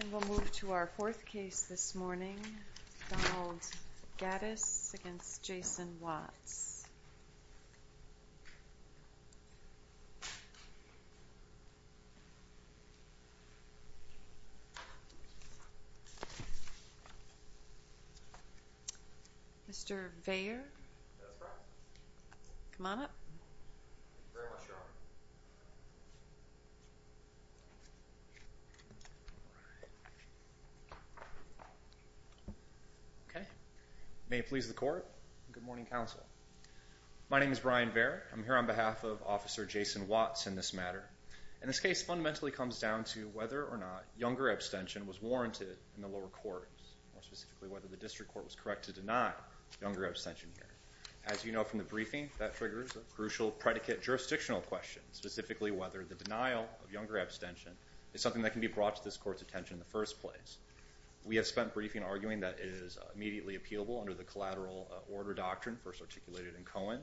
And we'll move to our fourth case this morning, Donald Gaddis v. Jason Watts. Mr. Veyer, come on up. All right. Okay. May it please the court and good morning, counsel. My name is Brian Veyer. I'm here on behalf of Officer Jason Watts in this matter. And this case fundamentally comes down to whether or not younger abstention was warranted in the lower courts, more specifically whether the district court was correct to deny younger abstention here. As you know from the briefing, that triggers a crucial predicate jurisdictional question, and specifically whether the denial of younger abstention is something that can be brought to this court's attention in the first place. We have spent briefing arguing that it is immediately appealable under the collateral order doctrine first articulated in Cohen.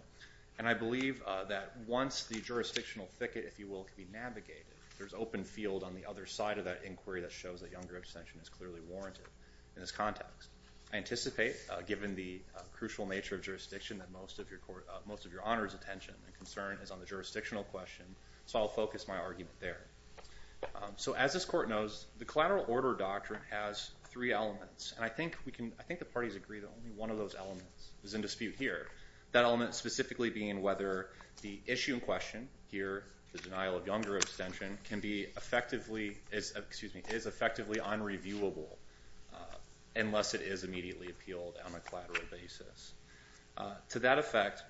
And I believe that once the jurisdictional thicket, if you will, can be navigated, there's open field on the other side of that inquiry that shows that younger abstention is clearly warranted in this context. I anticipate, given the crucial nature of jurisdiction, that most of your honor's attention and concern is on the jurisdictional question. So I'll focus my argument there. So as this court knows, the collateral order doctrine has three elements. And I think the parties agree that only one of those elements is in dispute here, that element specifically being whether the issue in question here, the denial of younger abstention, is effectively unreviewable unless it is immediately appealed on a collateral basis. To that effect,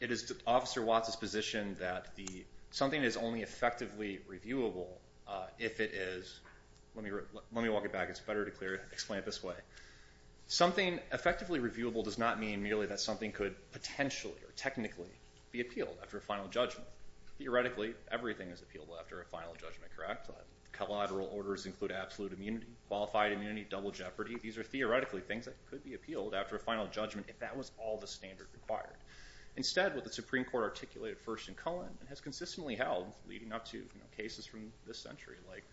it is Officer Watts's position that something is only effectively reviewable if it is. Let me walk it back. It's better to explain it this way. Something effectively reviewable does not mean merely that something could potentially or technically be appealed after a final judgment. Theoretically, everything is appealable after a final judgment, correct? Collateral orders include absolute immunity, qualified immunity, double jeopardy. These are theoretically things that could be appealed after a final judgment if that was all the standard required. Instead, what the Supreme Court articulated first in Cullen and has consistently held, leading up to cases from this century like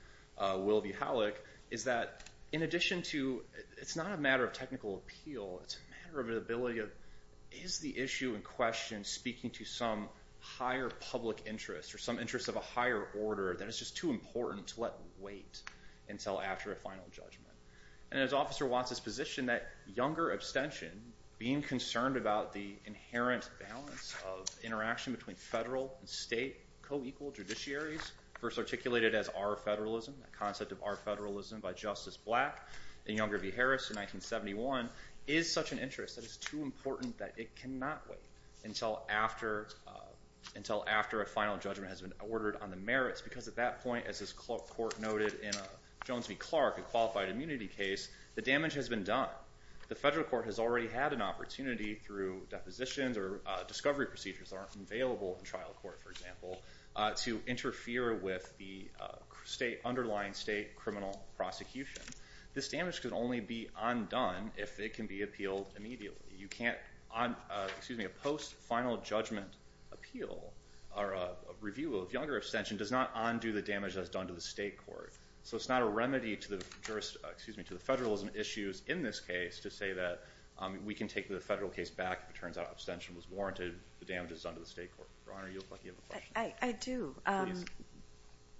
Will v. Halleck, is that in addition to, it's not a matter of technical appeal, it's a matter of the ability of, is the issue in question speaking to some higher public interest or some interest of a higher order that is just too important to let wait until after a final judgment. And as Officer Watts's position, that younger abstention, being concerned about the inherent balance of interaction between federal and state co-equal judiciaries, first articulated as our federalism, a concept of our federalism by Justice Black and Younger v. Harris in 1971, is such an interest that it's too important that it cannot wait until after a final judgment has been ordered on the merits. Because at that point, as this court noted in Jones v. Clark, a qualified immunity case, the damage has been done. The federal court has already had an opportunity through depositions or discovery procedures that aren't available in trial court, for example, to interfere with the underlying state criminal prosecution. This damage could only be undone if it can be appealed immediately. You can't, excuse me, a post-final judgment appeal or review of younger abstention does not undo the damage that's done to the state court. So it's not a remedy to the federalism issues in this case to say that we can take the federal case back if it turns out abstention was warranted, the damage is done to the state court. Your Honor, you look like you have a question. I do. Please.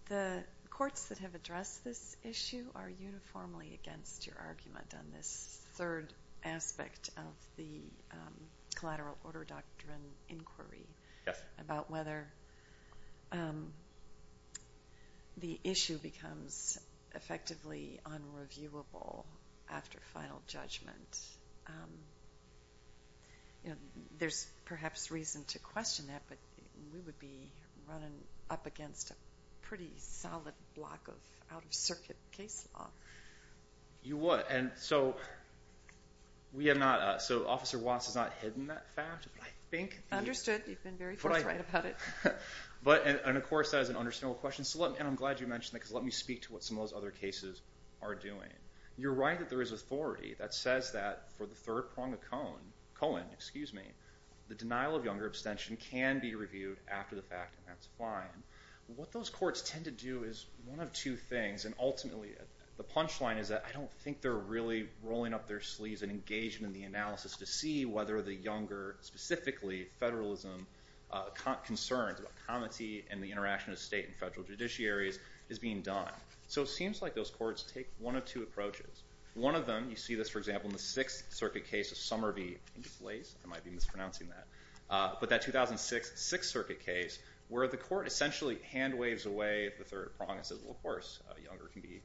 The courts that have addressed this issue are uniformly against your argument on this third aspect of the collateral order doctrine inquiry about whether the issue becomes effectively unreviewable after final judgment. You know, there's perhaps reason to question that, but we would be running up against a pretty solid block of out-of-circuit case law. You would. And so we have not, so Officer Watts has not hidden that fact. Understood. You've been very forthright about it. And, of course, that is an understandable question. And I'm glad you mentioned that because it let me speak to what some of those other cases are doing. You're right that there is authority that says that for the third prong of Cohen, the denial of younger abstention can be reviewed after the fact, and that's fine. What those courts tend to do is one of two things, and ultimately the punchline is that I don't think they're really rolling up their sleeves and engaging in the analysis to see whether the younger, specifically federalism, concerns about comity and the interaction of state and federal judiciaries is being done. So it seems like those courts take one of two approaches. One of them, you see this, for example, in the Sixth Circuit case of Somerville. I think it's Lace. I might be mispronouncing that. But that 2006 Sixth Circuit case where the court essentially hand waves away the third prong and says, well, of course, younger can be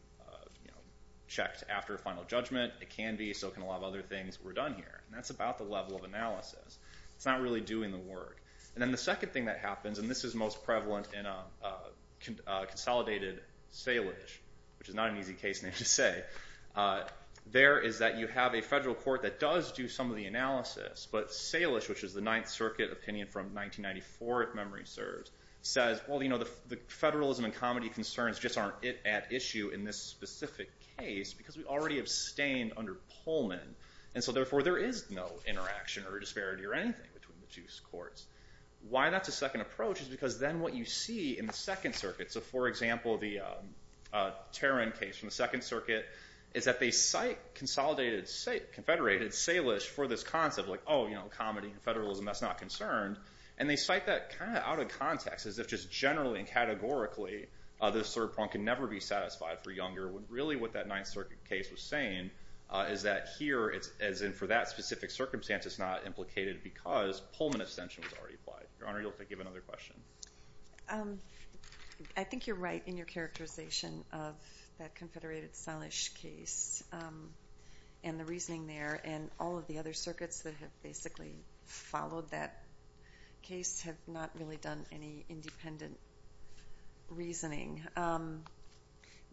checked after a final judgment. It can be so can a lot of other things. We're done here. And that's about the level of analysis. It's not really doing the work. And then the second thing that happens, and this is most prevalent in a consolidated Salish, which is not an easy case name to say, there is that you have a federal court that does do some of the analysis, but Salish, which is the Ninth Circuit opinion from 1994, if memory serves, says, well, you know, the federalism and comity concerns just aren't at issue in this specific case because we already abstained under Pullman, and so therefore there is no interaction or disparity or anything between the two courts. Why that's a second approach is because then what you see in the Second Circuit, so for example, the Tarrin case from the Second Circuit, is that they cite consolidated, confederated Salish for this concept, like, oh, you know, comity, federalism, that's not concerned. And they cite that kind of out of context as if just generally and categorically this third prong can never be satisfied for younger. Really what that Ninth Circuit case was saying is that here, as in for that specific circumstance, it's not implicated because Pullman abstention was already applied. Your Honor, you'll have to give another question. I think you're right in your characterization of that confederated Salish case and the reasoning there, and all of the other circuits that have basically followed that case have not really done any independent reasoning.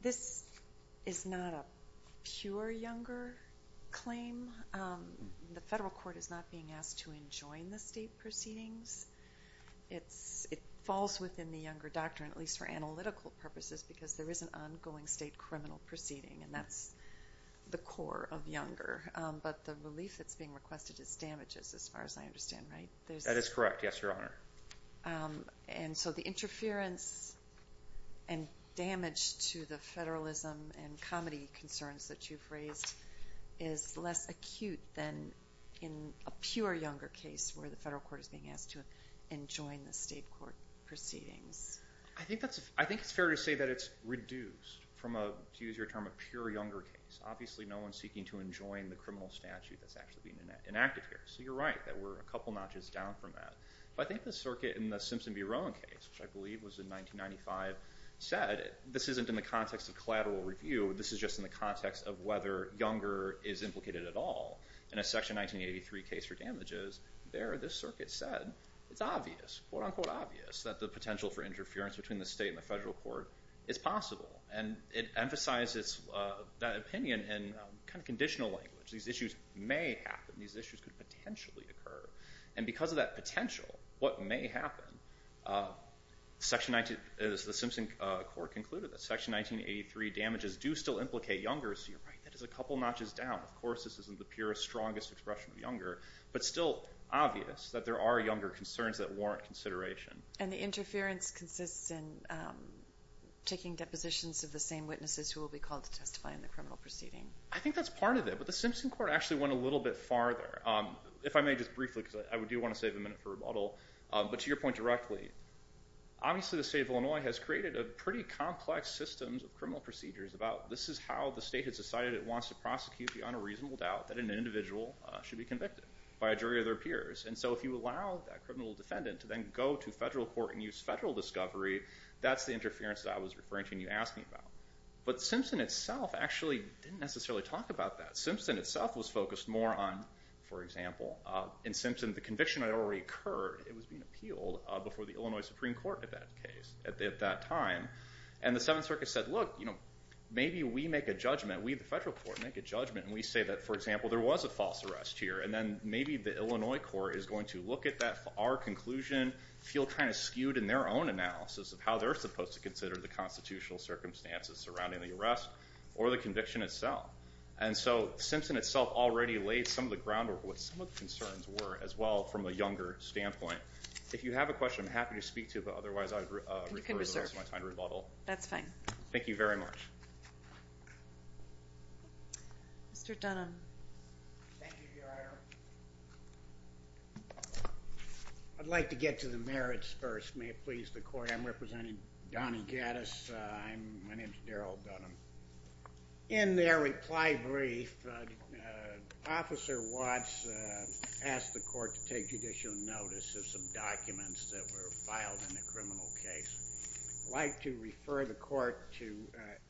This is not a pure younger claim. The federal court is not being asked to enjoin the state proceedings. It falls within the younger doctrine, at least for analytical purposes, because there is an ongoing state criminal proceeding, and that's the core of younger. But the relief that's being requested is damages, as far as I understand, right? That is correct, yes, Your Honor. And so the interference and damage to the federalism and comedy concerns that you've raised is less acute than in a pure younger case where the federal court is being asked to enjoin the state court proceedings. I think it's fair to say that it's reduced from a, to use your term, a pure younger case. Obviously no one is seeking to enjoin the criminal statute that's actually being enacted here. So you're right that we're a couple notches down from that. But I think the circuit in the Simpson v. Rowan case, which I believe was in 1995, said this isn't in the context of collateral review. This is just in the context of whether younger is implicated at all. In a Section 1983 case for damages, there this circuit said it's obvious, quote-unquote obvious, that the potential for interference between the state and the federal court is possible. And it emphasizes that opinion in kind of conditional language. These issues may happen. These issues could potentially occur. And because of that potential, what may happen, the Simpson court concluded that Section 1983 damages do still implicate younger. So you're right. That is a couple notches down. Of course this isn't the purest, strongest expression of younger, but still obvious that there are younger concerns that warrant consideration. And the interference consists in taking depositions of the same witnesses who will be called to testify in the criminal proceeding. I think that's part of it. But the Simpson court actually went a little bit farther. If I may just briefly, because I do want to save a minute for rebuttal, but to your point directly, obviously the state of Illinois has created a pretty complex system of criminal procedures about this is how the state has decided it wants to prosecute beyond a reasonable doubt that an individual should be convicted by a jury of their peers. And so if you allow that criminal defendant to then go to federal court and use federal discovery, that's the interference that I was referring to and you asked me about. But Simpson itself actually didn't necessarily talk about that. Simpson itself was focused more on, for example, in Simpson the conviction had already occurred. It was being appealed before the Illinois Supreme Court at that time. And the Seventh Circuit said, look, maybe we make a judgment, we the federal court make a judgment, and we say that, for example, there was a false arrest here. And then maybe the Illinois court is going to look at our conclusion, feel kind of skewed in their own analysis of how they're supposed to consider the constitutional circumstances surrounding the arrest or the conviction itself. And so Simpson itself already laid some of the groundwork of what some of the concerns were as well from a younger standpoint. If you have a question, I'm happy to speak to it, but otherwise I would refer you to my time to rebuttal. That's fine. Thank you very much. Mr. Dunham. Thank you, Your Honor. I'd like to get to the merits first. May it please the court. I'm representing Donny Gaddis. My name is Darryl Dunham. In their reply brief, Officer Watts asked the court to take judicial notice of some documents that were filed in the criminal case. I'd like to refer the court to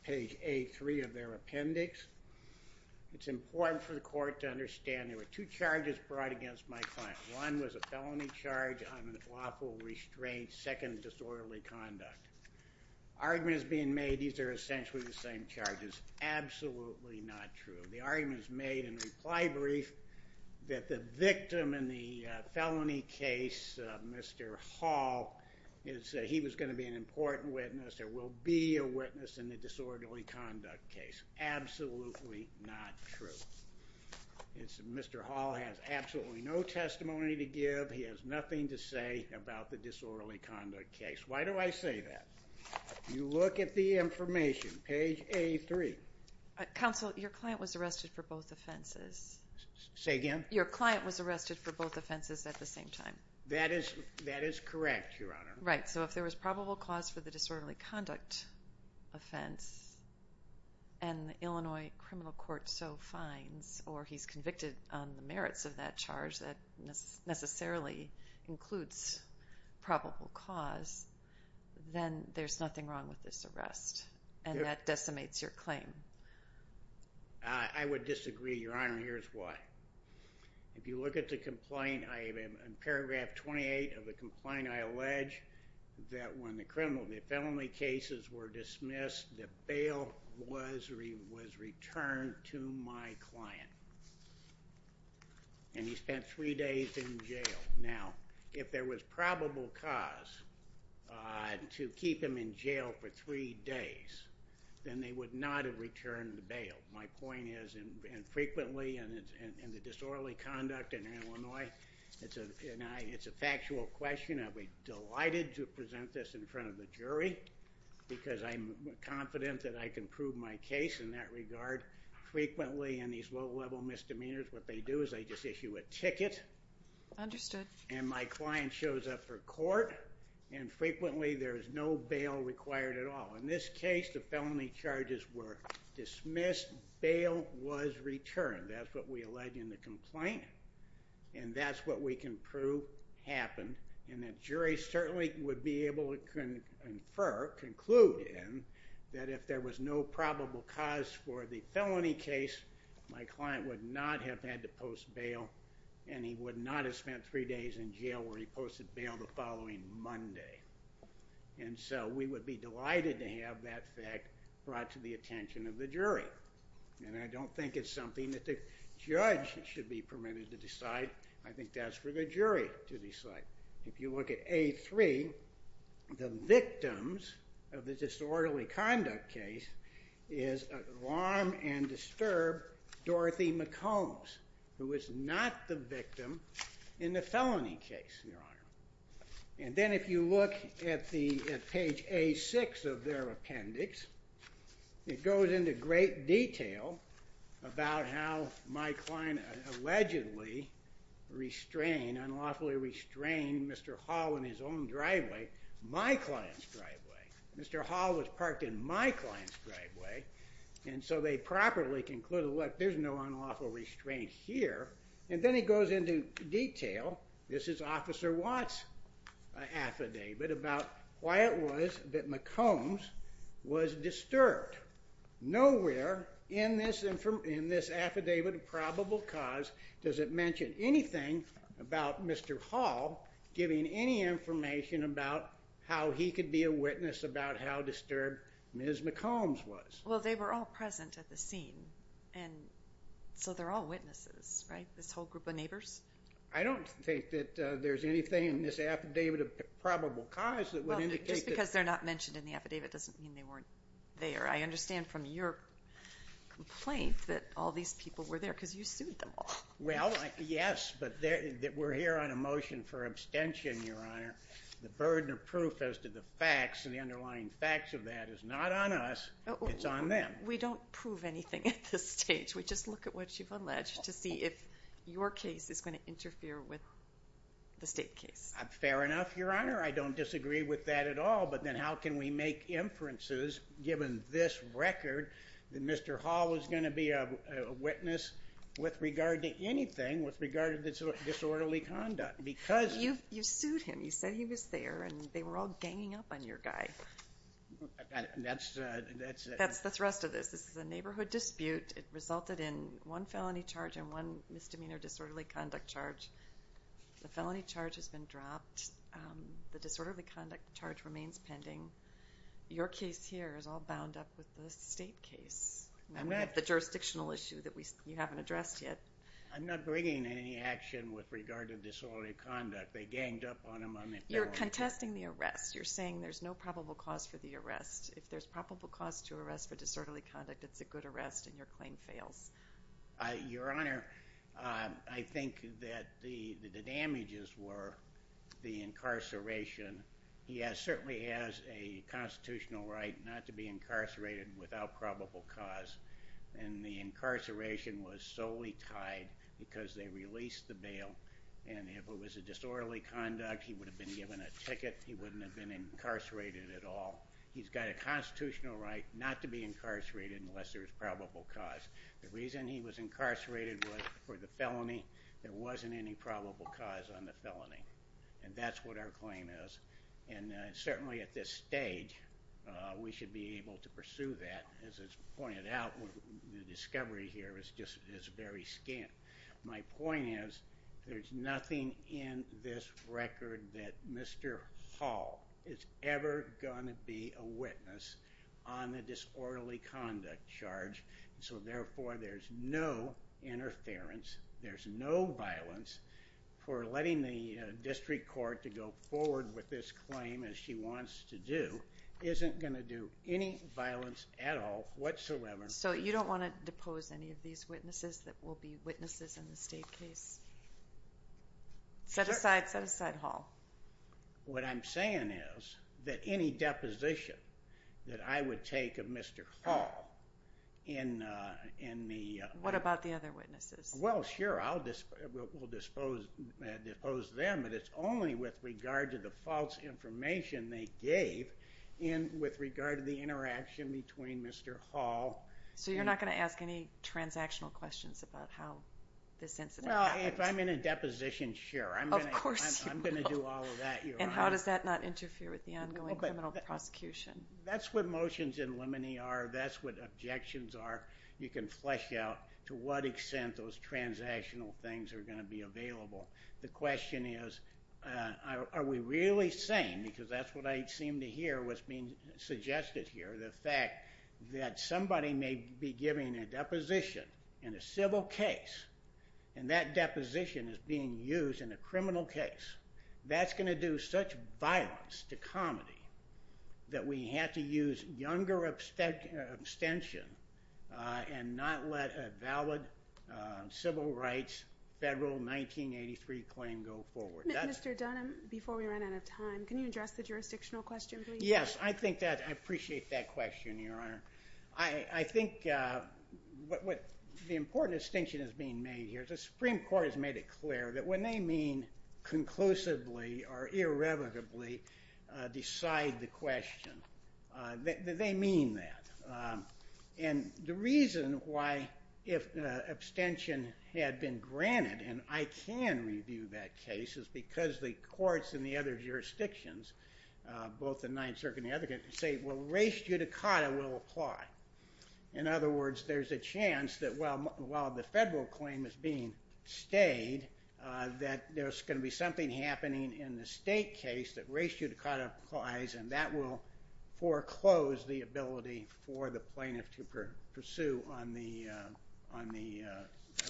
page A3 of their appendix. It's important for the court to understand there were two charges brought against my client. One was a felony charge on unlawful restraint, second, disorderly conduct. Argument is being made these are essentially the same charges. Absolutely not true. The argument is made in the reply brief that the victim in the felony case, Mr. Hall, he was going to be an important witness or will be a witness in the disorderly conduct case. Absolutely not true. Mr. Hall has absolutely no testimony to give. He has nothing to say about the disorderly conduct case. Why do I say that? You look at the information, page A3. Counsel, your client was arrested for both offenses. Say again? Your client was arrested for both offenses at the same time. That is correct, Your Honor. Right. So if there was probable cause for the disorderly conduct offense and the Illinois criminal court so finds or he's convicted on the merits of that charge that necessarily includes probable cause, then there's nothing wrong with this arrest, and that decimates your claim. I would disagree, Your Honor, and here's why. If you look at the complaint, in paragraph 28 of the complaint, I allege that when the felony cases were dismissed, the bail was returned to my client. And he spent three days in jail. Now, if there was probable cause to keep him in jail for three days, then they would not have returned the bail. My point is, and frequently in the disorderly conduct in Illinois, it's a factual question. I'd be delighted to present this in front of the jury Frequently in these low-level misdemeanors, what they do is they just issue a ticket. Understood. And my client shows up for court, and frequently there is no bail required at all. In this case, the felony charges were dismissed, bail was returned. That's what we allege in the complaint, and that's what we can prove happened. And the jury certainly would be able to infer, conclude, that if there was no probable cause for the felony case, my client would not have had to post bail, and he would not have spent three days in jail where he posted bail the following Monday. And so we would be delighted to have that fact brought to the attention of the jury. And I don't think it's something that the judge should be permitted to decide. I think that's for the jury to decide. If you look at A3, the victims of the disorderly conduct case is alarm and disturb Dorothy McCombs, who is not the victim in the felony case, Your Honor. And then if you look at page A6 of their appendix, it goes into great detail about how my client allegedly restrained, Mr. Hall, in his own driveway, my client's driveway. Mr. Hall was parked in my client's driveway. And so they properly concluded, look, there's no unlawful restraint here. And then it goes into detail, this is Officer Watts' affidavit, about why it was that McCombs was disturbed. Nowhere in this affidavit of probable cause does it mention anything about Mr. Hall giving any information about how he could be a witness about how disturbed Ms. McCombs was. Well, they were all present at the scene, and so they're all witnesses, right, this whole group of neighbors? I don't think that there's anything in this affidavit of probable cause that would indicate that. Just because they're not mentioned in the affidavit doesn't mean they weren't there. I understand from your complaint that all these people were there because you sued them all. Well, yes, but we're here on a motion for abstention, Your Honor. The burden of proof as to the facts and the underlying facts of that is not on us, it's on them. We don't prove anything at this stage. We just look at what you've alleged to see if your case is going to interfere with the state case. Fair enough, Your Honor. I don't disagree with that at all. But then how can we make inferences, given this record, that Mr. Hall was going to be a witness with regard to anything with regard to disorderly conduct? You sued him. You said he was there, and they were all ganging up on your guy. That's the rest of this. This is a neighborhood dispute. It resulted in one felony charge and one misdemeanor disorderly conduct charge. The felony charge has been dropped. The disorderly conduct charge remains pending. Your case here is all bound up with the state case. We have the jurisdictional issue that you haven't addressed yet. I'm not bringing any action with regard to disorderly conduct. They ganged up on him. You're contesting the arrest. You're saying there's no probable cause for the arrest. If there's probable cause to arrest for disorderly conduct, it's a good arrest, and your claim fails. Your Honor, I think that the damages were the incarceration. He certainly has a constitutional right not to be incarcerated without probable cause, and the incarceration was solely tied because they released the bail. If it was a disorderly conduct, he would have been given a ticket. He wouldn't have been incarcerated at all. He's got a constitutional right not to be incarcerated unless there's probable cause. The reason he was incarcerated was for the felony. There wasn't any probable cause on the felony, and that's what our claim is. And certainly at this stage, we should be able to pursue that. As is pointed out, the discovery here is very scant. My point is there's nothing in this record that Mr. Hall is ever going to be a witness on the disorderly conduct charge, so, therefore, there's no interference, there's no violence for letting the district court to go forward with this claim as she wants to do. It isn't going to do any violence at all whatsoever. So you don't want to depose any of these witnesses that will be witnesses in the state case? Set aside Hall. What I'm saying is that any deposition that I would take of Mr. Hall in the... What about the other witnesses? Well, sure, we'll depose them, but it's only with regard to the false information they gave and with regard to the interaction between Mr. Hall. So you're not going to ask any transactional questions about how this incident happened? No, if I'm in a deposition, sure. Of course you will. I'm going to do all of that. And how does that not interfere with the ongoing criminal prosecution? That's what motions in limine are. That's what objections are. You can flesh out to what extent those transactional things are going to be available. The question is, are we really saying, because that's what I seem to hear what's being suggested here, the fact that somebody may be giving a deposition in a civil case and that deposition is being used in a criminal case. That's going to do such violence to comedy that we have to use younger abstention and not let a valid civil rights federal 1983 claim go forward. Mr. Dunham, before we run out of time, can you address the jurisdictional question, please? Yes, I appreciate that question, Your Honor. I think the important distinction that's being made here is the Supreme Court has made it clear that when they mean conclusively or irrevocably decide the question, they mean that. And the reason why if abstention had been granted, and I can review that case, is because the courts in the other jurisdictions, both the Ninth Circuit and the other courts, say, well, res judicata will apply. In other words, there's a chance that while the federal claim is being stayed, that there's going to be something happening in the state case that res judicata applies and that will foreclose the ability for the plaintiff to pursue on the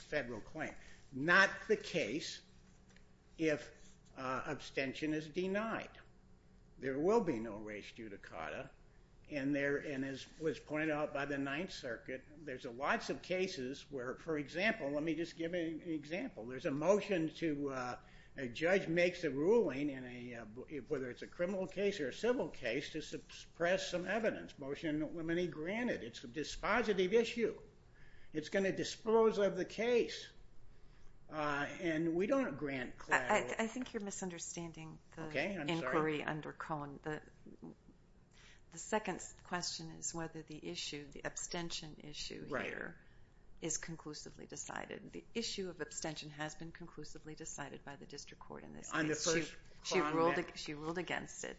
federal claim. Not the case if abstention is denied. There will be no res judicata, and as was pointed out by the Ninth Circuit, there's lots of cases where, for example, let me just give an example. There's a motion to a judge makes a ruling, whether it's a criminal case or a civil case, to suppress some evidence, a motion that when granted, it's a dispositive issue. It's going to dispose of the case. And we don't grant claims. I think you're misunderstanding the inquiry under Cohen. The second question is whether the issue, the abstention issue here, is conclusively decided. The issue of abstention has been conclusively decided by the district court in this case. She ruled against it.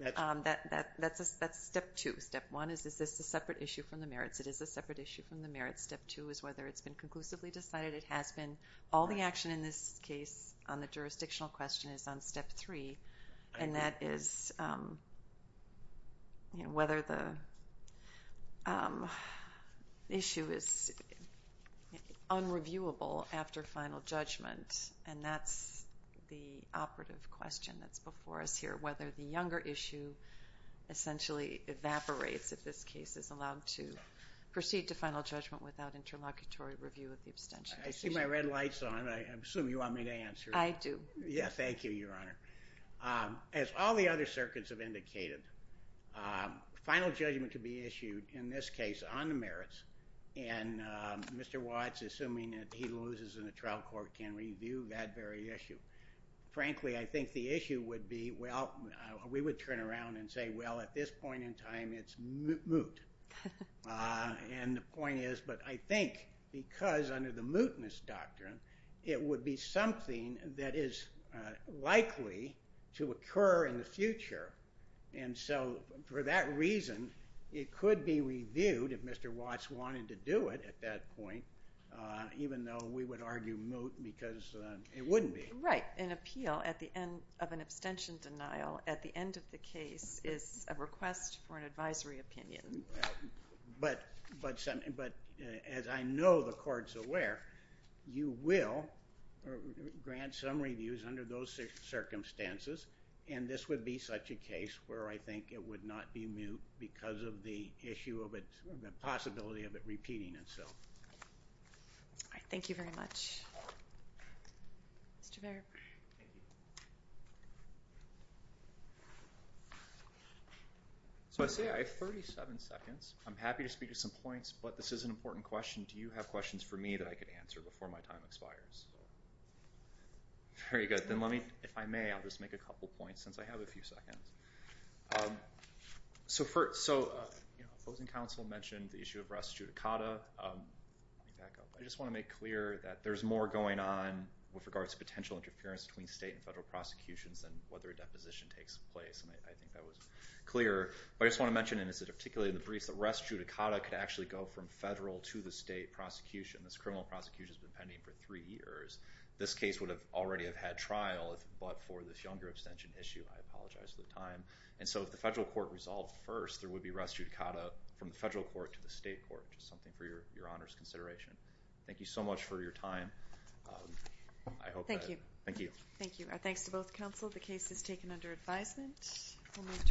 That's step two. Step one is, is this a separate issue from the merits? It is a separate issue from the merits. Step two is whether it's been conclusively decided. It has been. All the action in this case on the jurisdictional question is on step three, and that is whether the issue is unreviewable after final judgment, and that's the operative question that's before us here, whether the younger issue essentially evaporates if this case is allowed to proceed to final judgment without interlocutory review of the abstention. I see my red lights on. I assume you want me to answer. I do. Yes, thank you, Your Honor. As all the other circuits have indicated, final judgment could be issued in this case on the merits, and Mr. Watts, assuming that he loses in the trial court, can review that very issue. Frankly, I think the issue would be, well, we would turn around and say, well, at this point in time, it's moot. And the point is, but I think because under the mootness doctrine, it would be something that is likely to occur in the future. And so for that reason, it could be reviewed if Mr. Watts wanted to do it at that point, even though we would argue moot because it wouldn't be. Right. An appeal of an abstention denial at the end of the case is a request for an advisory opinion. But as I know the court's aware, you will grant some reviews under those circumstances, and this would be such a case where I think it would not be moot because of the possibility of it repeating itself. All right. Thank you very much. Mr. Baird. Thank you. So I see I have 37 seconds. I'm happy to speak to some points, but this is an important question. Do you have questions for me that I could answer before my time expires? Very good. Then let me, if I may, I'll just make a couple points since I have a few seconds. So opposing counsel mentioned the issue of res judicata. Let me back up. I just want to make clear that there's more going on with regards to potential interference between state and federal prosecutions than whether a deposition takes place, and I think that was clear. But I just want to mention, and this is particularly in the briefs, that res judicata could actually go from federal to the state prosecution. This criminal prosecution has been pending for three years. This case would already have had trial but for this younger abstention issue. I apologize for the time. And so if the federal court resolved first, there would be res judicata from the federal court to the state court, just something for your honors consideration. Thank you so much for your time. Thank you. Thank you. Our thanks to both counsel. The case is taken under advisement.